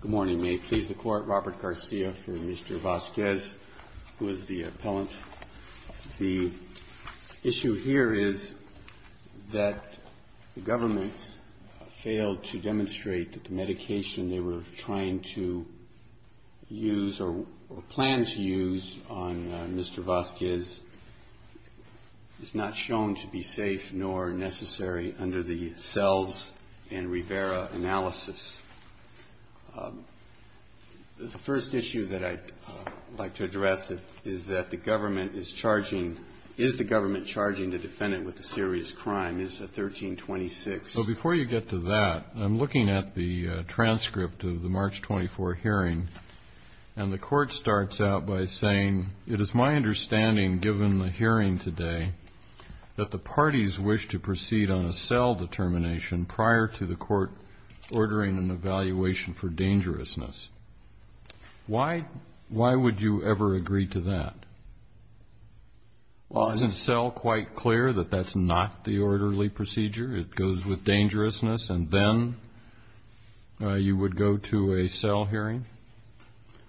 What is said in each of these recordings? Good morning, may it please the Court, Robert Garcia for Mr. Vasquez, who is the appellant. The issue here is that the government failed to demonstrate that the medication they were trying to use or planned to use on Mr. Vasquez is not shown to be safe nor necessary under the SELVS and Rivera analysis. The first issue that I'd like to address is that the government is charging, is the government charging the defendant with a serious crime? Is it 1326? Well, before you get to that, I'm looking at the transcript of the March 24 hearing, and the Court starts out by saying, it is my understanding, given the hearing today, that the parties wish to proceed on a SEL determination prior to the Court ordering an evaluation for dangerousness. Why would you ever agree to that? Well, isn't SEL quite clear that that's not the orderly procedure? It goes with dangerousness, and then you would go to a SEL hearing?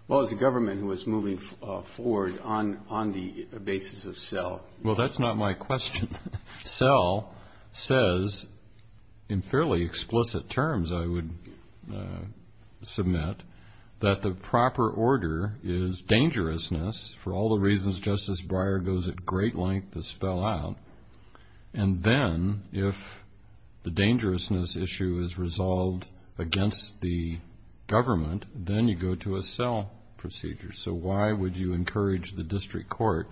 Well, it's the government who is moving forward on the basis of SEL. Well, that's not my question. SEL says in fairly explicit terms, I would submit, that the proper order is dangerousness for all the reasons Justice Breyer goes at great length to spell out, and then if the dangerousness issue is resolved against the government, then you go to a SEL procedure. So why would you encourage the district court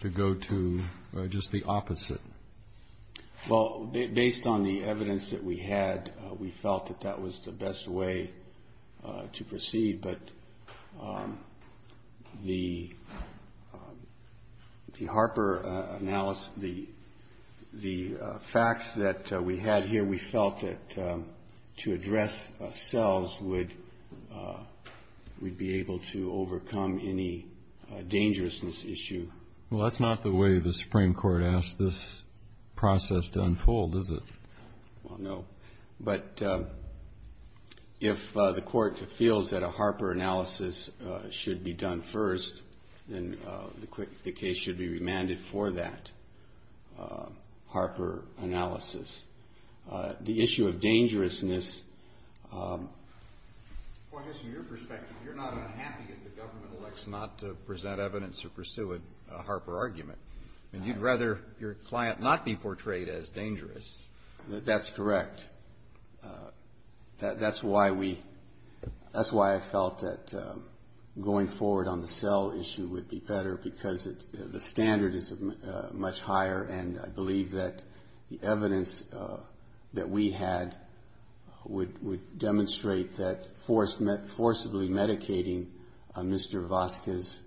to go to just the opposite? Well, based on the evidence that we had, we felt that that was the best way to proceed, but the Harper analysis, the facts that we had here, we felt that to address SELs, we'd be able to overcome any dangerousness issue. Well, that's not the way the Supreme Court asked this process to unfold, is it? Well, no. But if the court feels that a Harper analysis should be done first, then the case should be remanded for that Harper analysis. The issue of dangerousness. Well, I guess from your perspective, you're not unhappy if the government elects not to present evidence or pursue a Harper argument. You'd rather your client not be portrayed as dangerous. That's correct. That's why we – that's why I felt that going forward on the SEL issue would be better, because the standard is much higher, and I believe that the evidence that we had would demonstrate that forcibly medicating Mr. Vazquez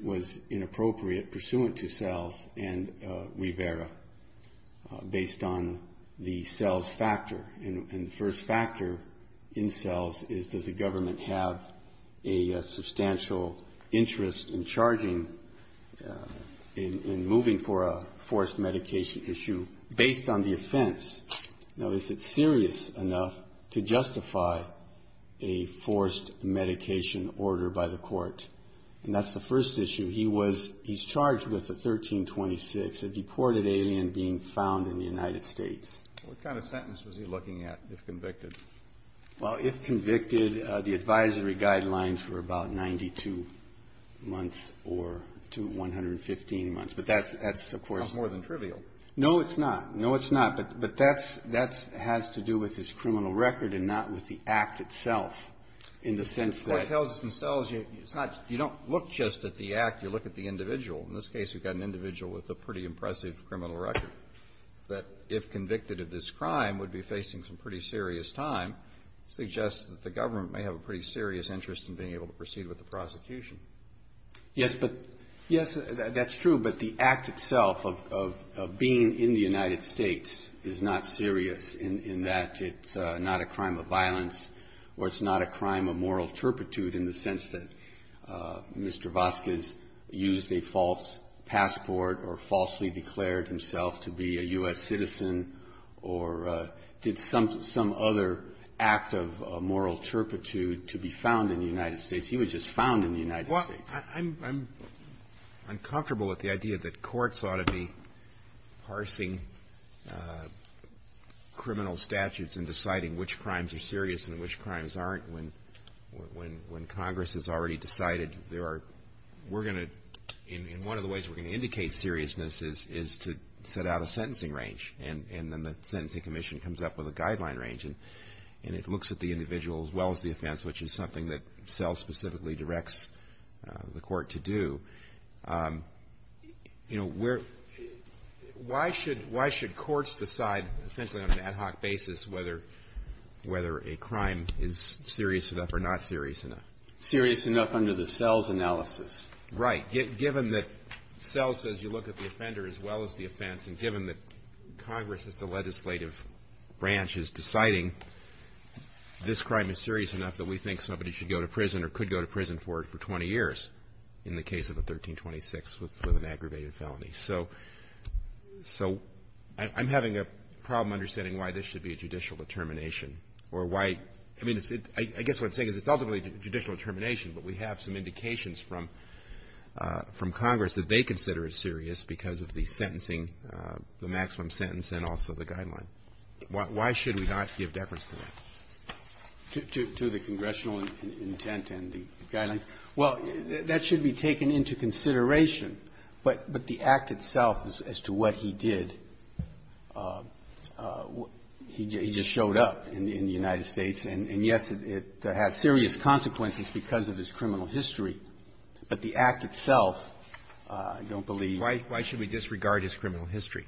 was inappropriate, pursuant to SELs and Rivera, based on the SELs factor. And the first factor in SELs is, does the government have a substantial interest in charging – in moving for a forced medication issue, based on the offense? Now, is it serious enough to justify a forced medication order by the court? And that's the first issue. He was – he's charged with the 1326, a deported alien being found in the United States. What kind of sentence was he looking at, if convicted? Well, if convicted, the advisory guidelines were about 92 months or – to 115 months. But that's, of course – That's more than trivial. No, it's not. No, it's not. But that's – that has to do with his criminal record and not with the act itself, in the sense that – The court tells us in SELs, it's not – you don't look just at the act. You look at the individual. In this case, we've got an individual with a pretty impressive criminal record that, if convicted of this crime, would be facing some pretty serious time, suggests that the government may have a pretty serious interest in being able to proceed with the prosecution. Yes, but – yes, that's true. But the act itself of being in the United States is not serious in that it's not a crime of violence or it's not a crime of moral turpitude in the sense that Mr. Vasquez used a false passport or falsely declared himself to be a U.S. citizen or did some – some other act of moral turpitude to be found in the United States. He was just found in the United States. Well, I'm – I'm uncomfortable with the idea that courts ought to be parsing criminal statutes and deciding which crimes are serious and which crimes aren't when – when Congress has already decided there are – we're going to – and one of the ways we're going to indicate seriousness is – is to set out a sentencing range. And then the Sentencing Commission comes up with a guideline range. And it looks at the individual as well as the offense, which is something that SELs specifically directs the court to do. You know, we're – why should – why should courts decide essentially on an ad hoc basis whether – whether a crime is serious enough or not serious enough? Serious enough under the SELs analysis. Right. Given that SELs says you look at the offender as well as the offense, and given that Congress as the legislative branch is deciding this crime is serious enough that we think somebody should go to prison or could go to prison for it for 20 years in the case of the 1326 with an aggravated felony. So – so I'm having a problem understanding why this should be a judicial determination or why – I mean, it's – I guess what I'm saying is it's ultimately a judicial determination, but we have some indications from – from Congress that they consider it serious because of the sentencing – the maximum sentence and also the guideline. Why should we not give deference to that? To – to the congressional intent and the guidelines? Well, that should be taken into consideration. But – but the act itself as to what he did, he just showed up in the United States, and yes, it has serious consequences because of his criminal history. But the act itself, I don't believe – So why – why should we disregard his criminal history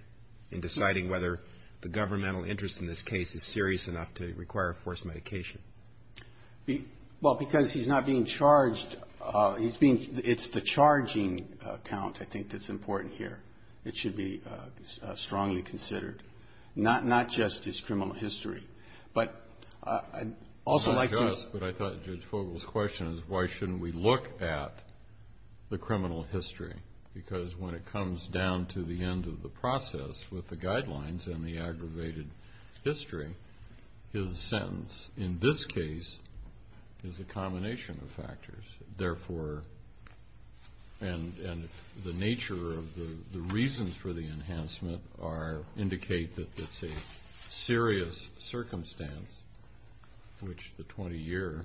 in deciding whether the governmental interest in this case is serious enough to require forced medication? Well, because he's not being charged. He's being – it's the charging count, I think, that's important here. It should be strongly considered, not – not just his criminal history. But I'd also like to – Yes, but I thought Judge Fogel's question is why shouldn't we look at the criminal history? Because when it comes down to the end of the process with the guidelines and the aggravated history, his sentence in this case is a combination of factors. Therefore – and – and the nature of the reasons for the enhancement are – indicate that it's a serious circumstance, which the 20-year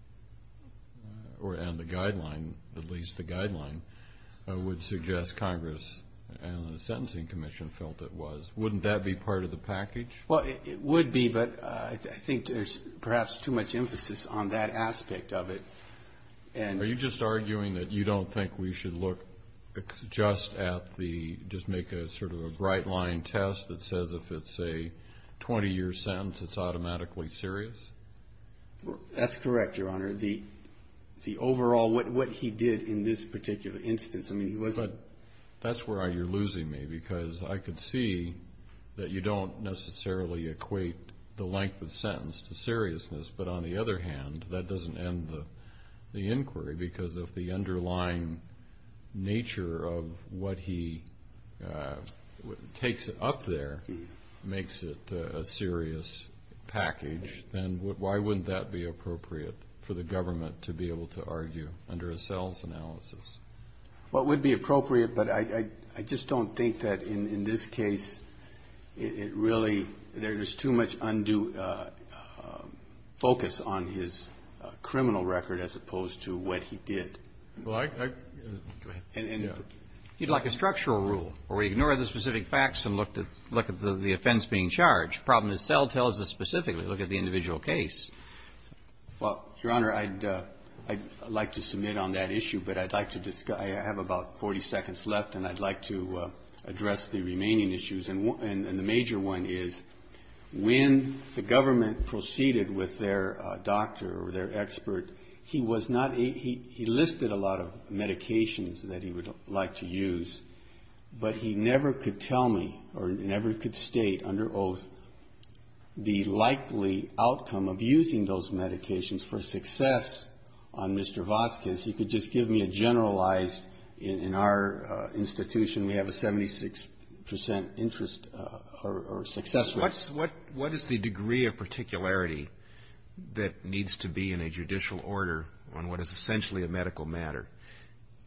– or – and the guideline, at least the guideline, would suggest Congress and the Sentencing Commission felt it was. Wouldn't that be part of the package? Well, it would be, but I think there's perhaps too much emphasis on that aspect of it. And – Are you just arguing that you don't think we should look just at the – just make a sort of a bright-line test that says if it's a 20-year sentence, it's automatically serious? That's correct, Your Honor. The – the overall – what he did in this particular instance, I mean, he wasn't – But that's where you're losing me, because I could see that you don't necessarily equate the length of sentence to seriousness. But on the other hand, that doesn't end the inquiry, because if the underlying nature of what he takes up there makes it a serious package, then why wouldn't that be appropriate for the government to be able to argue under a sales analysis? Well, it would be appropriate, but I just don't think that in this case it really – there's too much undue focus on his criminal record as opposed to what he did. Well, I – I – Go ahead. And – You'd like a structural rule where we ignore the specific facts and look at the offense being charged. The problem itself tells us specifically, look at the individual case. Well, Your Honor, I'd like to submit on that issue, but I'd like to – I have about 40 seconds left, and I'd like to address the remaining issues. And the major one is when the government proceeded with their doctor or their expert, he was not – he listed a lot of medications that he would like to use, but he never could tell me or never could state under oath the likely outcome of using those medications. For success on Mr. Vasquez, he could just give me a generalized – in our institution, we have a 76 percent interest or success rate. What is the degree of particularity that needs to be in a judicial order on what is essentially a medical matter?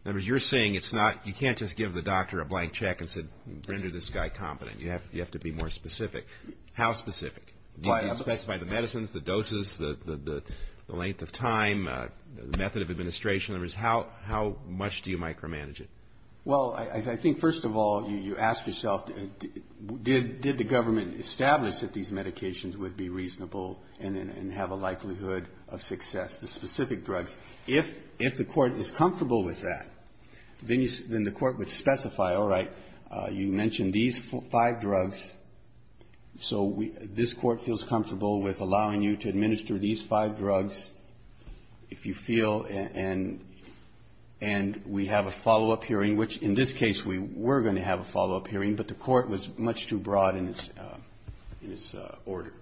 Remember, you're saying it's not – you can't just give the doctor a blank check and say, render this guy competent. You have to be more specific. How specific? Do you specify the medicines, the doses, the length of time, the method of administration? In other words, how much do you micromanage it? Well, I think, first of all, you ask yourself, did the government establish that these medications would be reasonable and have a likelihood of success, the specific drugs? If the court is comfortable with that, then the court would specify, all right, you mentioned these five drugs, so this court feels comfortable with allowing you to administer these five drugs, if you feel, and we have a follow-up hearing, which in this case we were going to have a follow-up hearing, but the court was much too broad in its order.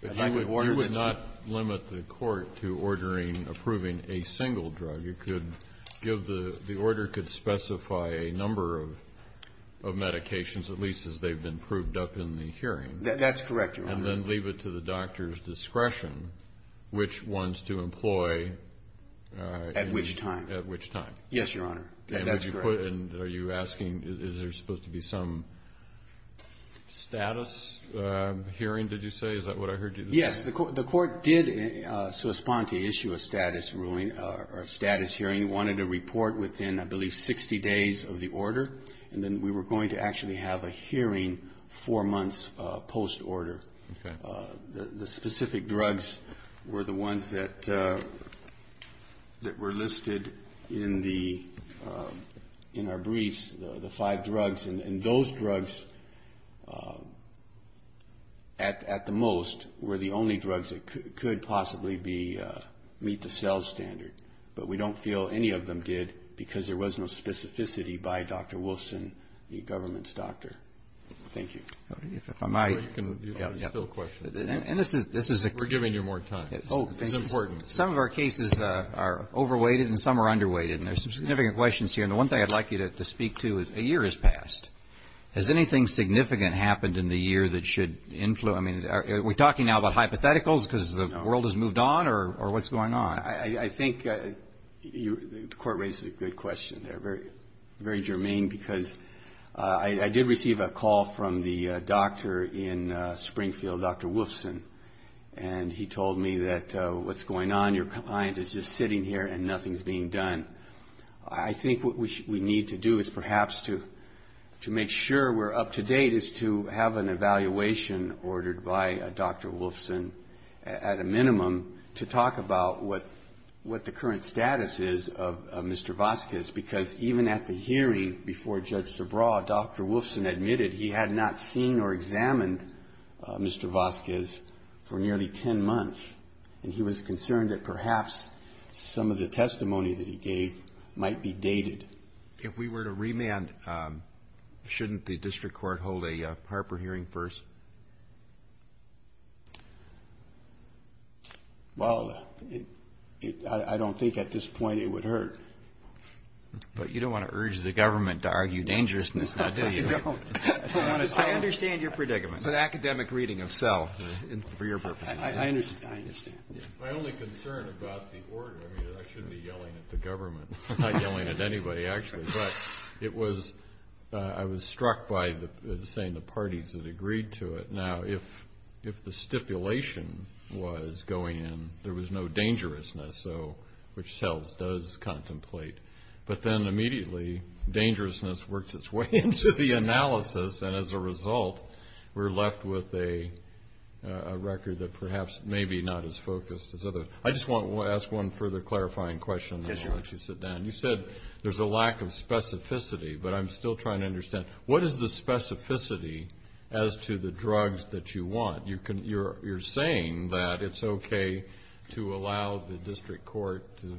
But you would not limit the court to ordering, approving a single drug. The order could specify a number of medications, at least as they've been proved up in the hearing. That's correct, Your Honor. And then leave it to the doctor's discretion which ones to employ. At which time. At which time. Yes, Your Honor. That's correct. Are you asking, is there supposed to be some status hearing, did you say? Is that what I heard you say? Yes, the court did so respond to issue a status ruling or a status hearing. It wanted a report within, I believe, 60 days of the order, and then we were going to actually have a hearing four months post-order. The specific drugs were the ones that were listed in our briefs, the five drugs, and those drugs, at the most, were the only drugs that could possibly be, meet the sales standard. But we don't feel any of them did because there was no specificity by Dr. Wolfson, the government's doctor. Thank you. If I might. You can still question. We're giving you more time. It's important. Some of our cases are over-weighted and some are under-weighted, and there's some significant questions here. And the one thing I'd like you to speak to is a year has passed. Has anything significant happened in the year that should influence, I mean, are we talking now about hypotheticals because the world has moved on or what's going on? I think the court raised a good question there, very germane, because I did receive a call from the doctor in Springfield, Dr. Wolfson, and he told me that what's going on, your client is just sitting here and nothing's being done. I think what we need to do is perhaps to make sure we're up to date is to have an evaluation ordered by Dr. Wolfson at a minimum to talk about what the current status is of Mr. Vazquez, because even at the hearing before Judge Sobreau, Dr. Wolfson admitted he had not seen or examined Mr. Vazquez for nearly ten months. And he was concerned that perhaps some of the testimony that he gave might be dated. If we were to remand, shouldn't the district court hold a Harper hearing first? Well, I don't think at this point it would hurt. But you don't want to urge the government to argue dangerousness, do you? No, I don't. I understand your predicament. It's an academic reading of self for your purpose. I understand. My only concern about the order, I mean, I shouldn't be yelling at the government. I'm not yelling at anybody, actually. But it was ‑‑ I was struck by the saying the parties that agreed to it. Now, if the stipulation was going in, there was no dangerousness, which cells does contemplate. But then immediately dangerousness works its way into the analysis, and as a result we're left with a record that perhaps may be not as focused. I just want to ask one further clarifying question. Yes, sir. Why don't you sit down? You said there's a lack of specificity, but I'm still trying to understand. What is the specificity as to the drugs that you want? You're saying that it's okay to allow the district court to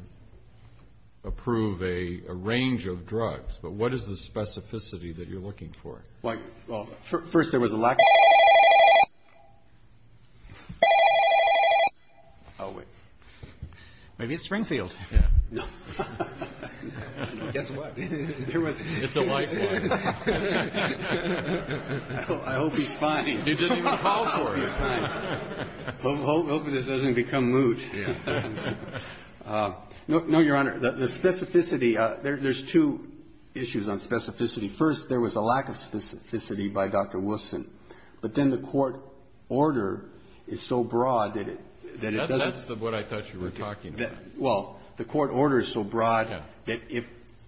approve a range of drugs, but what is the specificity that you're looking for? Well, first there was a lack of ‑‑ Oh, wait. Maybe it's Springfield. No. Guess what. It's a lifelong. I hope he's fine. He didn't even call for it. I hope he's fine. I hope this doesn't become moot. No, Your Honor, the specificity, there's two issues on specificity. First, there was a lack of specificity by Dr. Wilson, but then the court order is so broad that it doesn't ‑‑ That's what I thought you were talking about. Well, the court order is so broad that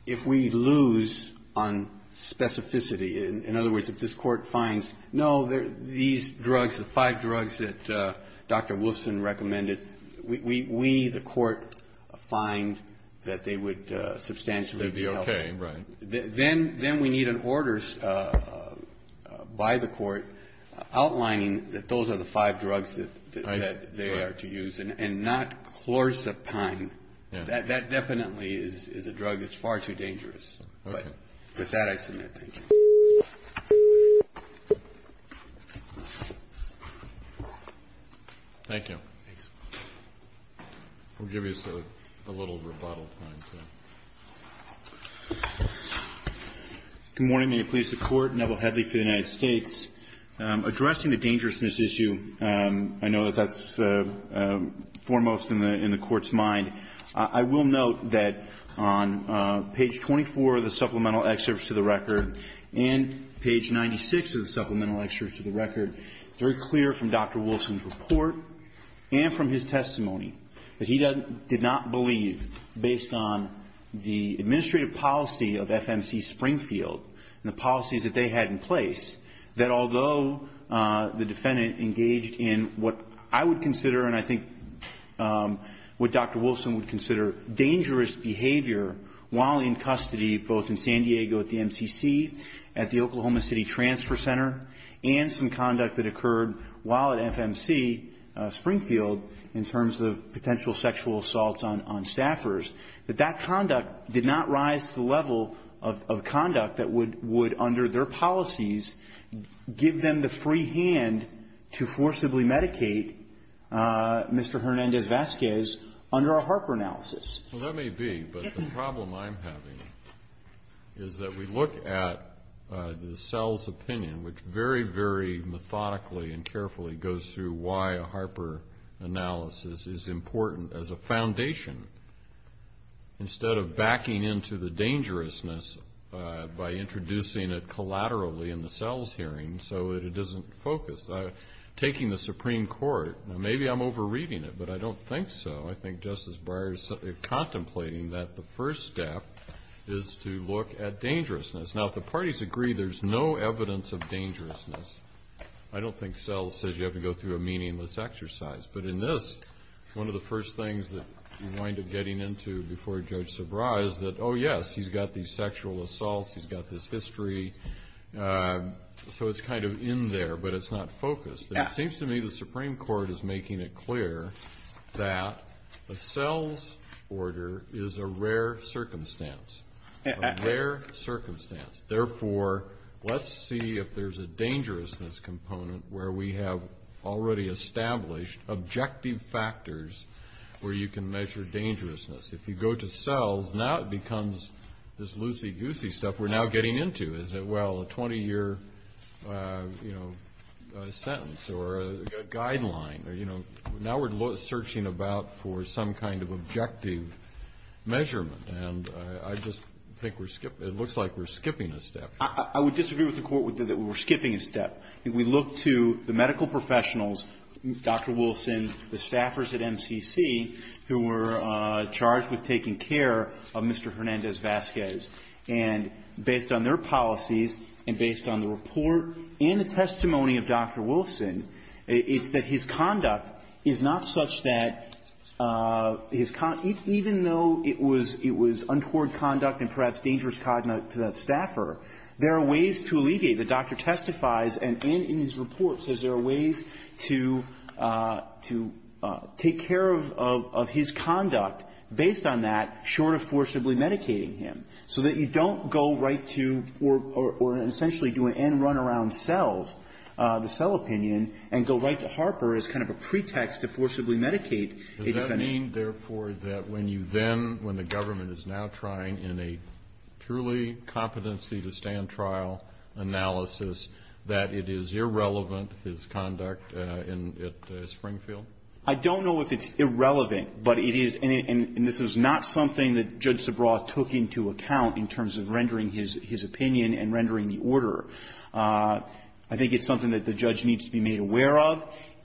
if we lose on specificity, in other words, if this court finds, no, these drugs, the five drugs that Dr. Wilson recommended, we, the court, find that they would substantially be helpful. It would be okay, right. Then we need an order by the court outlining that those are the five drugs that they are to use and not chlorazepine. That definitely is a drug that's far too dangerous. Okay. With that, I submit. Thank you. Thanks. We'll give you a little rebuttal time. Good morning. May it please the Court. Neville Hedley for the United States. Addressing the dangerousness issue, I know that that's foremost in the court's mind. I will note that on page 24 of the supplemental excerpts to the record and page 96 of the supplemental excerpts to the record, it's very clear from Dr. Wilson's report and from his testimony that he did not believe, based on the administrative policy of FMC Springfield and the policies that they had in place, that although the defendant engaged in what I would consider and I think what Dr. Wilson would consider dangerous behavior while in custody, both in San Diego at the MCC, at the Oklahoma City Transfer Center, and some conduct that occurred while at FMC Springfield in terms of potential sexual assaults on staffers, that that conduct did not rise to the level of conduct that would, under their policies, give them the free hand to forcibly medicate Mr. Hernandez-Vasquez under a Harper analysis. Well, that may be, but the problem I'm having is that we look at the cell's opinion, which very, very methodically and carefully goes through why a Harper analysis is important as a foundation, instead of backing into the dangerousness by introducing it collaterally in the cell's hearing so that it isn't focused. Taking the Supreme Court, maybe I'm over-reading it, but I don't think so. I think Justice Breyer is contemplating that the first step is to look at dangerousness. Now, if the parties agree there's no evidence of dangerousness, I don't think cells says you have to go through a meaningless exercise. But in this, one of the first things that you wind up getting into before Judge Sabra is that, oh, yes, he's got these sexual assaults, he's got this history, so it's kind of in there, but it's not focused. It seems to me the Supreme Court is making it clear that the cells order is a rare circumstance, a rare circumstance. Therefore, let's see if there's a dangerousness component where we have already established objective factors where you can measure dangerousness. If you go to cells, now it becomes this loosey-goosey stuff we're now getting into. Is it, well, a 20-year, you know, sentence or a guideline, or, you know, now we're searching about for some kind of objective measurement. And I just think we're skipping. It looks like we're skipping a step. I would disagree with the Court that we're skipping a step. We look to the medical professionals, Dr. Wilson, the staffers at MCC who were charged with taking care of Mr. Hernandez-Vasquez. And based on their policies and based on the report and the testimony of Dr. Wilson, it's that his conduct is not such that his con – even though it was untoward conduct and perhaps dangerous conduct to that staffer, there are ways to alleviate short of forcibly medicating him, so that you don't go right to or essentially do an end run around cells, the cell opinion, and go right to Harper as kind of a pretext to forcibly medicate a defendant. Kennedy. Does that mean, therefore, that when you then, when the government is now trying in a purely competency-to-stand trial analysis that it is irrelevant, his conduct at Springfield? I don't know if it's irrelevant, but it is, and this is not something that Judge Zabraw took into account in terms of rendering his opinion and rendering the order. I think it's something that the judge needs to be made aware of.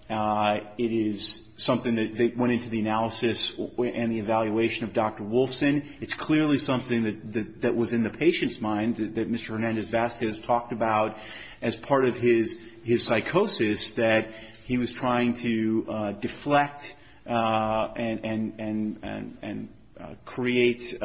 It is something that went into the analysis and the evaluation of Dr. Wilson. It's clearly something that was in the patient's mind, that Mr. Hernandez-Vasquez talked about as part of his psychosis, that he was trying to deflect and create,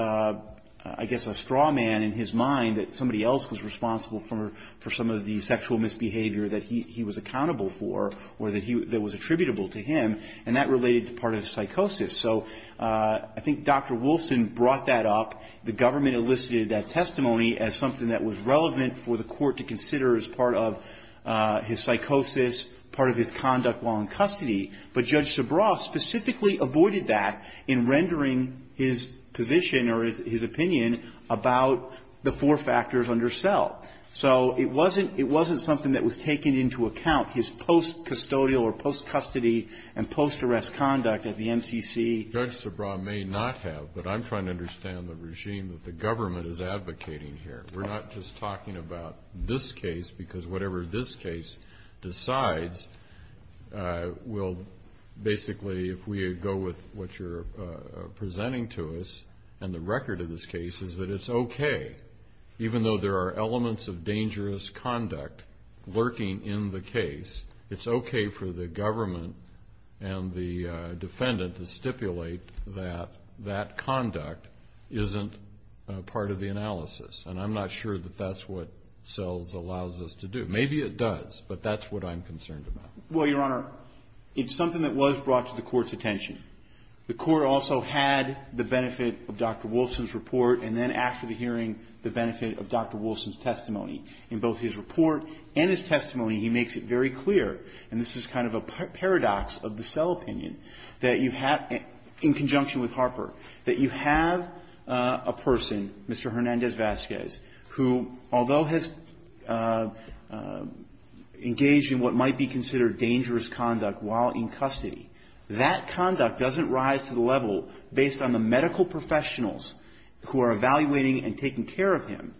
I guess, a straw man in his mind that somebody else was responsible for some of the sexual misbehavior that he was accountable for or that was attributable to him, and that related to part of the psychosis. So I think Dr. Wilson brought that up. The government elicited that testimony as something that was relevant for the Court to consider as part of his psychosis, part of his conduct while in custody, but Judge Zabraw specifically avoided that in rendering his position or his opinion about the four factors under cell. So it wasn't, it wasn't something that was taken into account, his post-custodial or post-custody and post-arrest conduct at the MCC. Judge Zabraw may not have, but I'm trying to understand the regime that the government is advocating here. We're not just talking about this case because whatever this case decides will basically, if we go with what you're presenting to us and the record of this case, is that it's okay. Even though there are elements of dangerous conduct lurking in the case, it's okay for the government and the defendant to stipulate that that conduct isn't part of the analysis. And I'm not sure that that's what cells allows us to do. Maybe it does, but that's what I'm concerned about. Well, Your Honor, it's something that was brought to the Court's attention. The Court also had the benefit of Dr. Wilson's report, and then after the hearing the benefit of Dr. Wilson's testimony. In both his report and his testimony, he makes it very clear, and this is kind of a paradox of the cell opinion, that you have, in conjunction with Harper, that you have a person, Mr. Hernandez-Vazquez, who, although has engaged in what might be considered dangerous conduct while in custody, that conduct doesn't rise to the level, based on the medical professionals who are evaluating and taking care of him,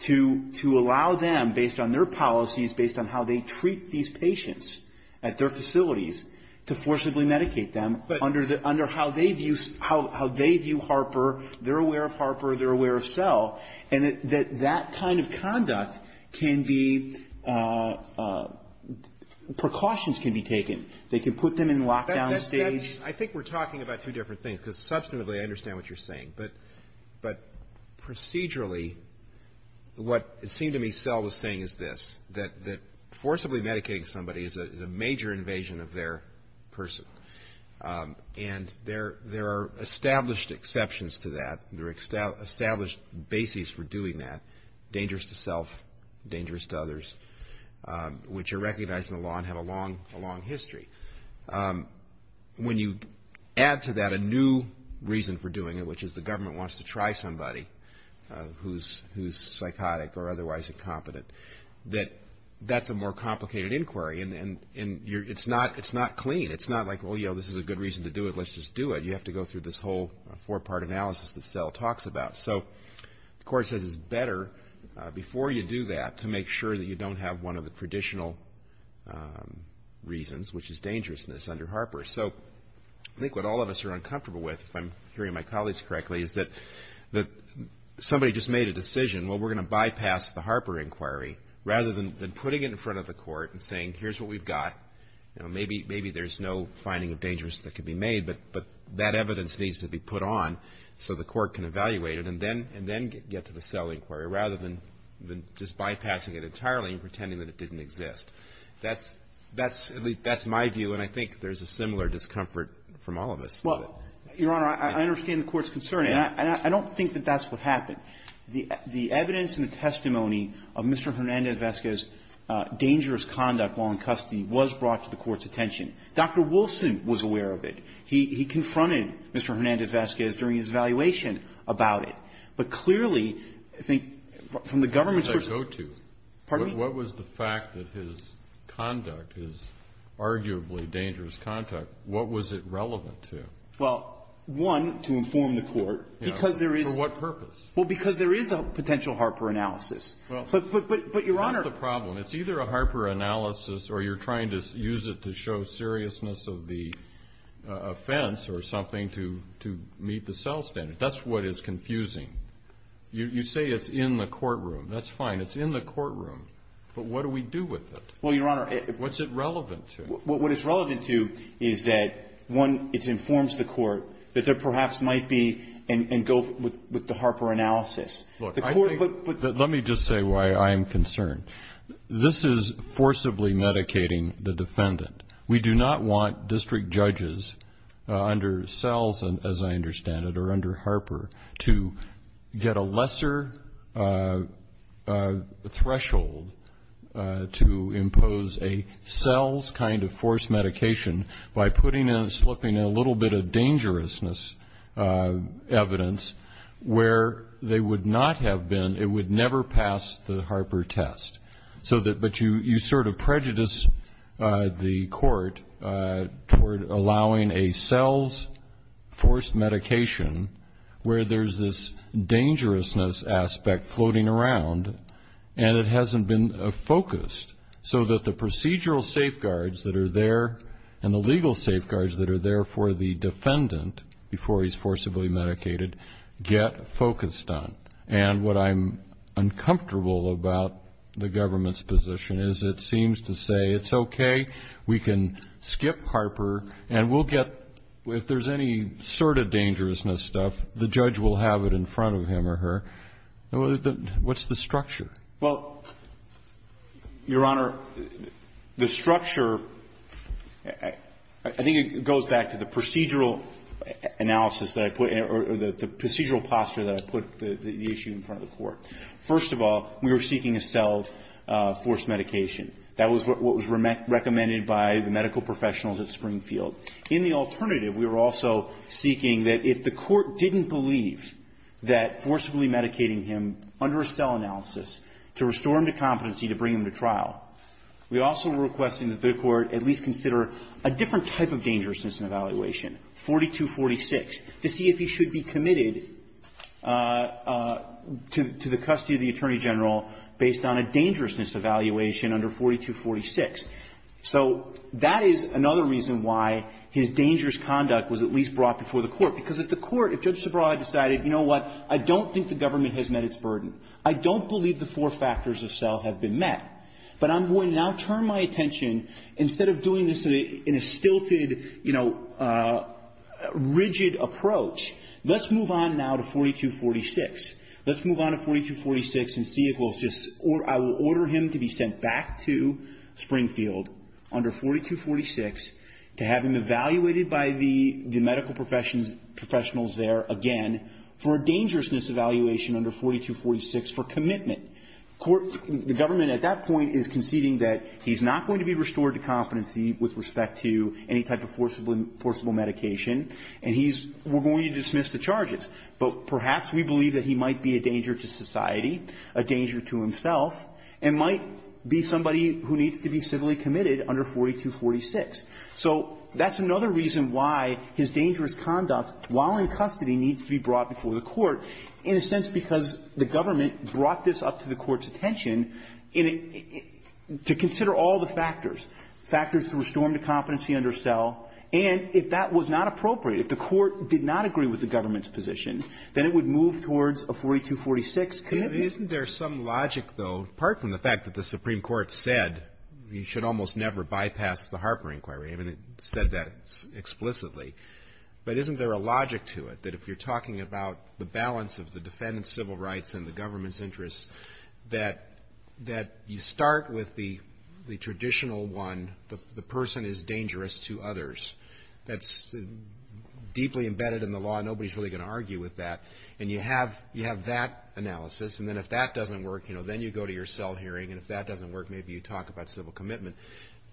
to allow them, based on their policies, based on how they treat these patients at their facilities, to forcibly medicate them under how they view Harper. They're aware of Harper. They're aware of cell. And that that kind of conduct can be – precautions can be taken. They can put them in lockdown states. I think we're talking about two different things, because substantively I understand what you're saying. But procedurally, what it seemed to me cell was saying is this, that forcibly medicating somebody is a major invasion of their person. And there are established exceptions to that. There are established bases for doing that, dangerous to self, dangerous to others, which are recognized in the law and have a long history. When you add to that a new reason for doing it, which is the government wants to try somebody who's psychotic or otherwise incompetent, that that's a more complicated inquiry. And it's not clean. It's not like, well, you know, this is a good reason to do it. Let's just do it. You have to go through this whole four-part analysis that cell talks about. So the court says it's better, before you do that, to make sure that you don't have one of the traditional reasons, which is dangerousness under Harper. So I think what all of us are uncomfortable with, if I'm hearing my colleagues correctly, is that somebody just made a decision, well, we're going to bypass the Harper inquiry, rather than putting it in front of the court and saying, here's what we've got. You know, maybe there's no finding of dangerousness that can be made, but that evidence needs to be put on so the court can evaluate it and then get to the cell inquiry, rather than just bypassing it entirely and pretending that it didn't exist. That's my view, and I think there's a similar discomfort from all of us. Well, Your Honor, I understand the Court's concern, and I don't think that that's what happened. The evidence and the testimony of Mr. Hernandez-Vezquez's dangerous conduct while in custody was brought to the Court's attention. Dr. Wilson was aware of it. He confronted Mr. Hernandez-Vezquez during his evaluation about it. But clearly, I think, from the government's perspective — Where did that go to? Pardon me? What was the fact that his conduct, his arguably dangerous conduct, what was it relevant to? Well, one, to inform the Court, because there is — For what purpose? Well, because there is a potential Harper analysis. But, Your Honor — That's the problem. It's either a Harper analysis or you're trying to use it to show seriousness of the offense or something to meet the cell standard. That's what is confusing. You say it's in the courtroom. That's fine. It's in the courtroom. But what do we do with it? Well, Your Honor — What's it relevant to? What it's relevant to is that, one, it informs the Court that there perhaps might be — and go with the Harper analysis. Let me just say why I am concerned. This is forcibly medicating the defendant. We do not want district judges under Sells, as I understand it, or under Harper, to get a lesser threshold to impose a Sells kind of forced medication by putting in and slipping in a little bit of dangerousness evidence where they would not have been, it would never pass the Harper test. But you sort of prejudice the Court toward allowing a Sells forced medication where there's this dangerousness aspect floating around and it hasn't been focused so that the procedural safeguards that are there and the legal safeguards that are there for the defendant before he's forcibly medicated get focused on. And what I'm uncomfortable about the government's position is it seems to say it's okay, we can skip Harper, and we'll get — if there's any sort of dangerousness stuff, the judge will have it in front of him or her. What's the structure? Well, Your Honor, the structure, I think it goes back to the procedural analysis that I put in or the procedural posture that I put the issue in front of the Court. First of all, we were seeking a Sells forced medication. That was what was recommended by the medical professionals at Springfield. In the alternative, we were also seeking that if the Court didn't believe that forcibly medicating him under a Sells analysis to restore him to competency to bring him to trial, we also were requesting that the Court at least consider a different type of dangerousness evaluation, 4246, to see if he should be committed to the custody of the Attorney General based on a dangerousness evaluation under 4246. So that is another reason why his dangerous conduct was at least brought before the Court, because at the Court, if Judge Sobral had decided, you know what, I don't think the government has met its burden, I don't believe the four factors of Sells have been met. But I'm going to now turn my attention, instead of doing this in a stilted, you know, rigid approach, let's move on now to 4246. Let's move on to 4246 and see if we'll just, I will order him to be sent back to Springfield under 4246 to have him evaluated by the medical professionals there again for a dangerousness evaluation under 4246 for commitment. Court, the government at that point is conceding that he's not going to be restored to competency with respect to any type of forcible medication, and he's going to dismiss the charges. But perhaps we believe that he might be a danger to society, a danger to himself, and might be somebody who needs to be civilly committed under 4246. So that's another reason why his dangerous conduct, while in custody, needs to be brought before the Court, in a sense because the government brought this up to the Court's attention to consider all the factors, factors to restore him to competency under Sell, and if that was not appropriate, if the Court did not agree with the government's position, then it would move towards a 4246 commitment. Isn't there some logic, though, apart from the fact that the Supreme Court said you should almost never bypass the Harper inquiry? I mean, it said that explicitly. But isn't there a logic to it, that if you're talking about the balance of the defendant's civil rights and the government's interests, that you start with the traditional one, the person is dangerous to others. That's deeply embedded in the law. Nobody's really going to argue with that. And you have that analysis, and then if that doesn't work, you know, then you go to your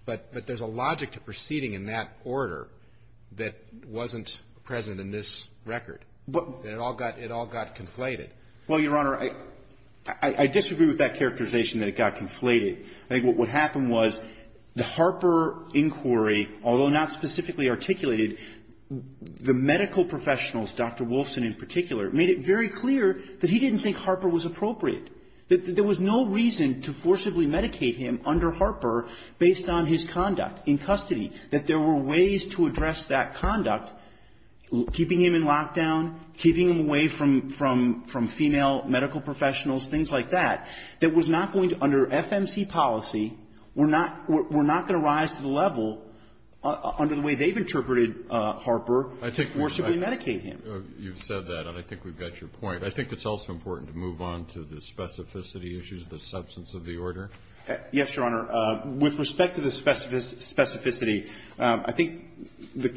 But there's a logic to proceeding in that order that wasn't present in this record. It all got conflated. Well, Your Honor, I disagree with that characterization that it got conflated. I think what would happen was the Harper inquiry, although not specifically articulated, the medical professionals, Dr. Wolfson in particular, made it very clear that he didn't think Harper was appropriate, that there was no reason to forcibly medicate him under Harper based on his conduct in custody, that there were ways to address that conduct, keeping him in lockdown, keeping him away from female medical professionals, things like that, that was not going to, under FMC policy, were not going to rise to the level, under the way they've interpreted Harper, forcibly medicate him. You've said that, and I think we've got your point. I think it's also important to move on to the specificity issues of the substance of the order. Yes, Your Honor. With respect to the specificity, I think the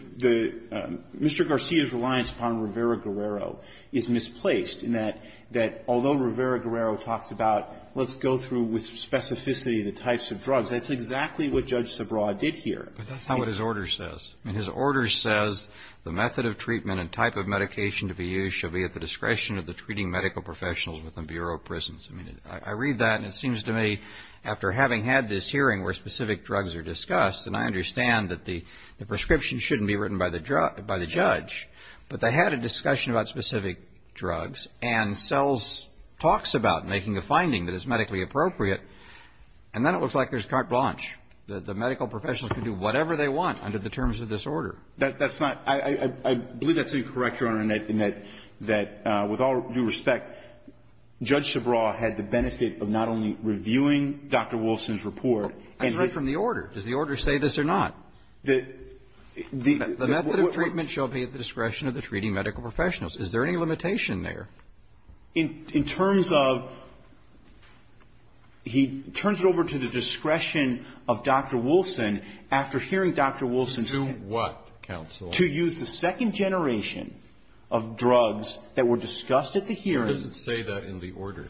Mr. Garcia's reliance upon Rivera-Guerrero is misplaced in that although Rivera-Guerrero talks about let's go through with specificity the types of drugs, that's exactly what Judge Subraw did here. But that's not what his order says. I mean, his order says the method of treatment and type of medication to be used shall be at the discretion of the treating medical professionals within Bureau of Prisons. I mean, I read that, and it seems to me after having had this hearing where specific drugs are discussed, and I understand that the prescription shouldn't be written by the judge, but they had a discussion about specific drugs, and Sells talks about making a finding that is medically appropriate, and then it looks like there's carte blanche, that the medical professionals can do whatever they want under the terms of this order. That's not – I believe that's incorrect, Your Honor, in that with all due respect, Judge Subraw had the benefit of not only reviewing Dr. Wilson's report, and he – That's right from the order. Does the order say this or not? The – The method of treatment shall be at the discretion of the treating medical professionals. Is there any limitation there? In terms of – he turns it over to the discretion of Dr. Wilson after hearing Dr. Wilson's – In what, counsel? To use the second generation of drugs that were discussed at the hearing. It doesn't say that in the order.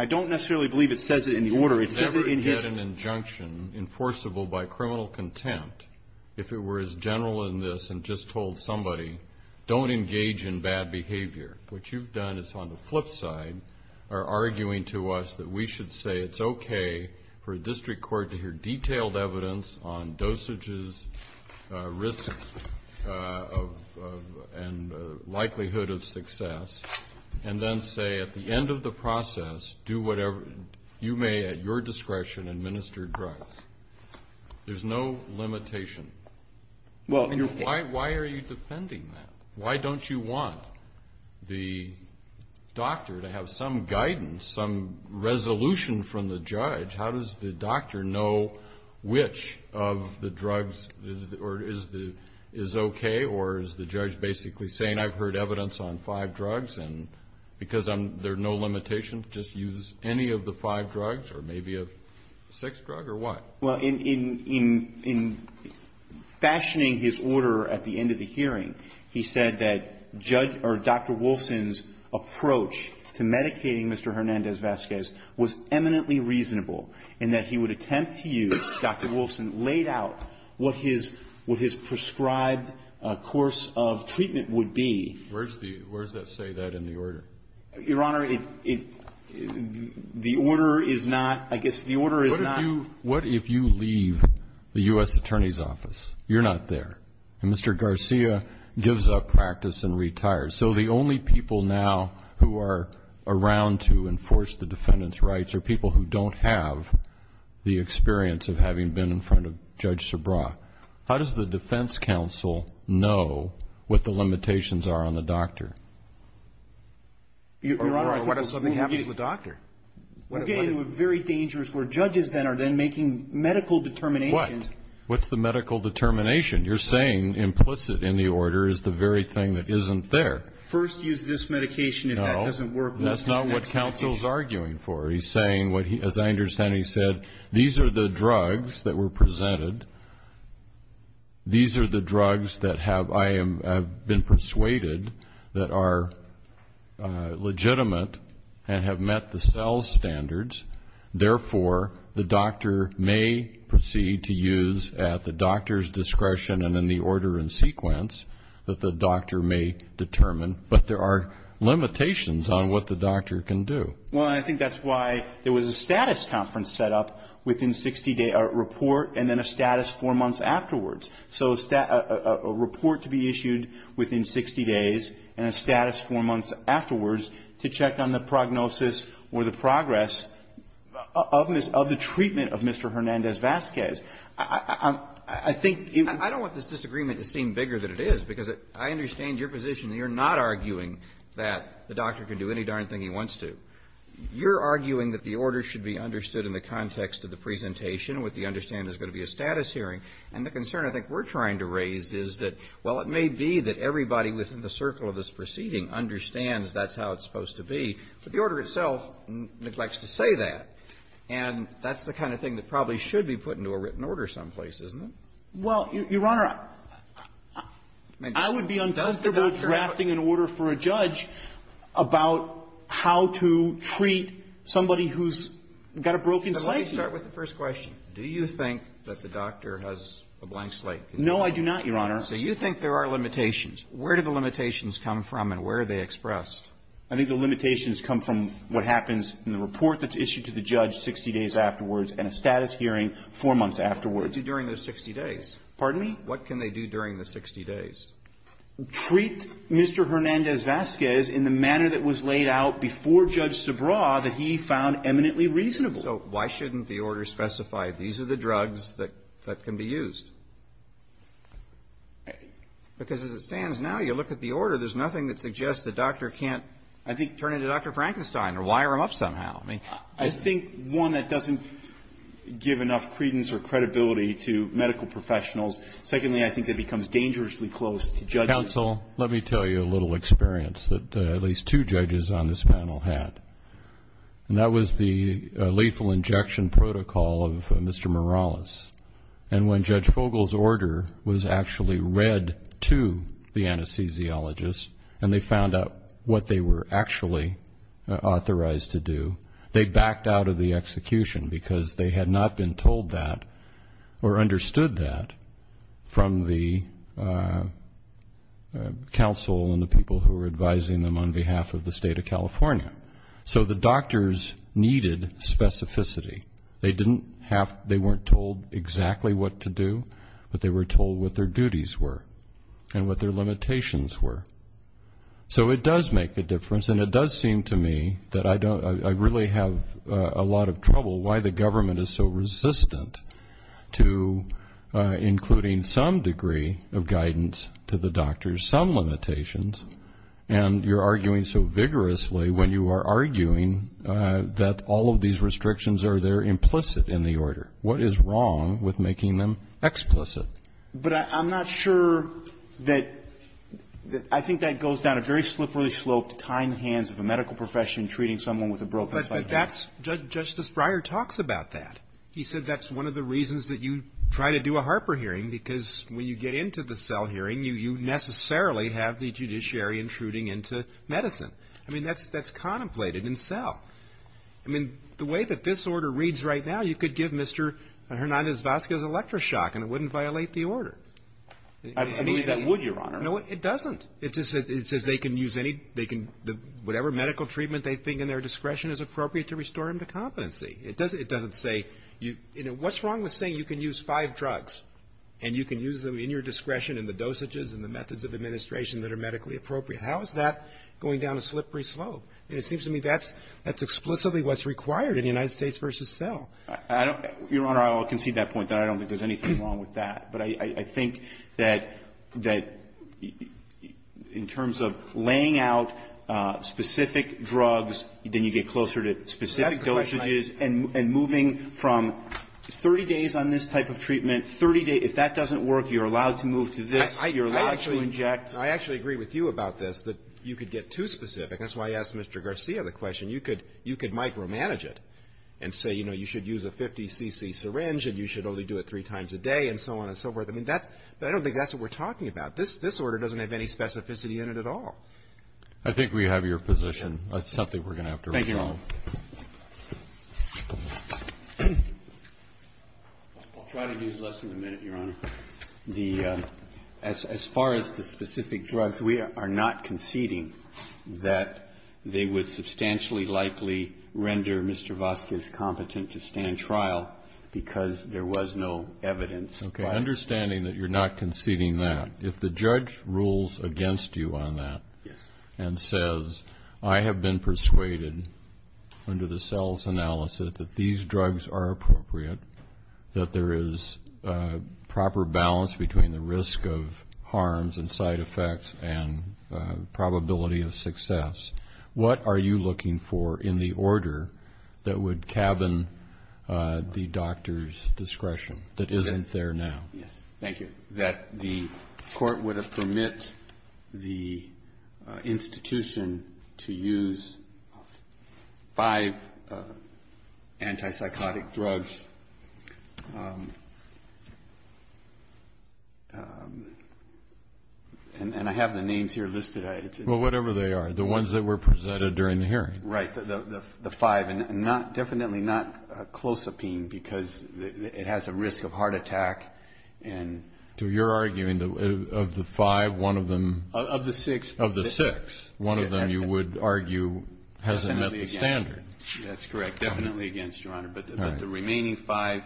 I don't necessarily believe it says it in the order. It says it in his – You would never get an injunction enforceable by criminal contempt if it were as general in this and just told somebody, don't engage in bad behavior. What you've done is on the flip side are arguing to us that we should say it's okay for a district court to hear detailed evidence on dosages, risks, and likelihood of success, and then say at the end of the process, do whatever you may at your discretion administer drugs. There's no limitation. Well, you're – Why are you defending that? Why don't you want the doctor to have some guidance, some resolution from the judge? How does the doctor know which of the drugs is okay? Or is the judge basically saying, I've heard evidence on five drugs, and because there's no limitation, just use any of the five drugs, or maybe a sixth drug, or what? Well, in – in – in fashioning his order at the end of the hearing, he said that judge – or Dr. Wilson's approach to medicating Mr. Hernandez-Vazquez was eminently reasonable, and that he would attempt to use – Dr. Wilson laid out what his – what his prescribed course of treatment would be. Where's the – where does that say that in the order? Your Honor, it – the order is not – I guess the order is not – What if you – what if you leave the U.S. Attorney's Office? You're not there. And Mr. Garcia gives up practice and retires. So the only people now who are around to enforce the defendant's rights are people who don't have the experience of having been in front of Judge Sabra. How does the defense counsel know what the limitations are on the doctor? Your Honor, what if something happens to the doctor? We're getting into a very dangerous – where judges then are then making medical determinations. What? What's the medical determination? You're saying implicit in the order is the very thing that isn't there. First use this medication if that doesn't work. No. That's not what counsel's arguing for. He's saying what he – as I understand it, he said, these are the drugs that were presented. These are the drugs that have – I have been persuaded that are legitimate and have met the sales standards. Therefore, the doctor may proceed to use at the doctor's discretion and in the order and sequence that the doctor may determine. But there are limitations on what the doctor can do. Well, I think that's why there was a status conference set up within 60 days – a report and then a status four months afterwards. So a report to be issued within 60 days and a status four months afterwards to check on the prognosis or the progress of the treatment of Mr. Hernandez-Vasquez. I think you – I don't want this disagreement to seem bigger than it is because I understand your position. You're not arguing that the doctor can do any darn thing he wants to. You're arguing that the order should be understood in the context of the presentation with the understanding there's going to be a status hearing. And the concern I think we're trying to raise is that, well, it may be that everybody within the circle of this proceeding understands that's how it's supposed to be, but the order itself neglects to say that. And that's the kind of thing that probably should be put into a written order someplace, isn't it? Well, Your Honor, I would be uncomfortable drafting an order for a judge about how to treat somebody who's got a broken psyche. But let me start with the first question. Do you think that the doctor has a blank slate? No, I do not, Your Honor. So you think there are limitations. Where do the limitations come from and where are they expressed? I think the limitations come from what happens in the report that's issued to the judge 60 days afterwards and a status hearing four months afterwards. What can they do during those 60 days? Pardon me? What can they do during the 60 days? Treat Mr. Hernandez-Vasquez in the manner that was laid out before Judge Subraw that he found eminently reasonable. So why shouldn't the order specify these are the drugs that can be used? Because as it stands now, you look at the order, there's nothing that suggests the doctor can't, I think, turn into Dr. Frankenstein or wire him up somehow. I think, one, that doesn't give enough credence or credibility to medical professionals. Secondly, I think it becomes dangerously close to judges. Counsel, let me tell you a little experience that at least two judges on this panel had. And that was the lethal injection protocol of Mr. Morales. And when Judge Fogle's order was actually read to the anesthesiologist and they found out what they were actually authorized to do, they backed out of the execution because they had not been told that or understood that from the counsel and the people who were advising them on behalf of the state of California. So the doctors needed specificity. They weren't told exactly what to do, but they were told what their duties were and what their limitations were. So it does make a difference, and it does seem to me that I really have a lot of trouble why the government is so resistant to including some degree of guidance to the doctors, some limitations, and you're arguing so vigorously when you are arguing that all of these restrictions are there implicit in the order. What is wrong with making them explicit? But I'm not sure that the – I think that goes down a very slippery slope to tying the hands of a medical profession treating someone with a broken slight hand. But that's – Justice Breyer talks about that. He said that's one of the reasons that you try to do a Harper hearing, because when you get into the SELL hearing, you necessarily have the judiciary intruding into medicine. I mean, that's contemplated in SELL. I mean, the way that this order reads right now, you could give Mr. Hernandez-Vazquez an electroshock, and it wouldn't violate the order. I believe that would, Your Honor. No, it doesn't. It just says they can use any – they can – whatever medical treatment they think in their discretion is appropriate to restore him to competency. It doesn't say you – you know, what's wrong with saying you can use five drugs, and you can use them in your discretion in the dosages and the methods of administration that are medically appropriate? How is that going down a slippery slope? And it seems to me that's explicitly what's required in United States v. SELL. I don't – Your Honor, I'll concede that point. I don't think there's anything wrong with that. But I think that – that in terms of laying out specific drugs, then you get closer to specific dosages, and moving from 30 days on this type of treatment, 30 days – if that doesn't work, you're allowed to move to this. You're allowed to inject. I actually agree with you about this, that you could get too specific. That's why I asked Mr. Garcia the question. You could – you could micromanage it and say, you know, you should use a 50 cc syringe and you should only do it three times a day and so on and so forth. I mean, that's – I don't think that's what we're talking about. This – this order doesn't have any specificity in it at all. I think we have your position. That's something we're going to have to resolve. Thank you, Your Honor. I'll try to use less than a minute, Your Honor. The – as far as the specific drugs, we are not conceding that they would substantially likely render Mr. Vasquez competent to stand trial because there was no evidence. Okay. Understanding that you're not conceding that, if the judge rules against you on that and says, I have been persuaded under the sales analysis that these drugs are appropriate, that there is proper balance between the risk of harms and side effects and probability of success, what are you looking for in the order that would cabin the doctor's discretion that isn't there now? Yes. Thank you. That the court would permit the institution to use five antipsychotic drugs. And I have the names here listed. Well, whatever they are, the ones that were presented during the hearing. Right. The five. Definitely not Clozapine because it has a risk of heart attack. So you're arguing of the five, one of them. Of the six. Of the six, one of them you would argue hasn't met the standard. That's correct. Definitely against, Your Honor. But the remaining five,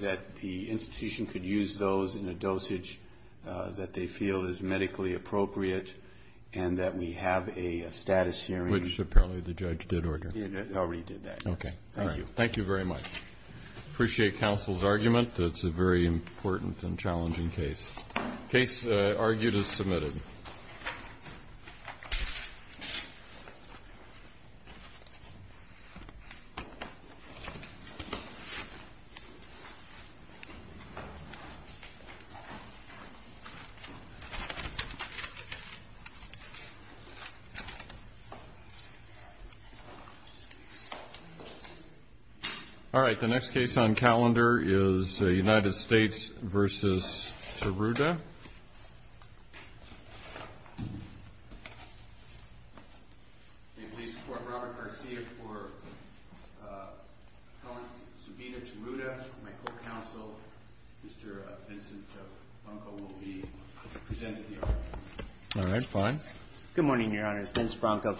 that the institution could use those in a dosage that they feel is medically appropriate and that we have a status hearing. Which apparently the judge did order. Already did that. Okay. Thank you. Thank you very much. Appreciate counsel's argument. It's a very important and challenging case. Case argued as submitted. All right. The next case on calendar is United States v. Taruta. May it please the court, Robert Garcia for subpoena Taruta. My co-counsel, Mr. Vincent Bronco will be presenting the argument. All right. Fine. Good morning, Your Honor. This is Vincent Bronco.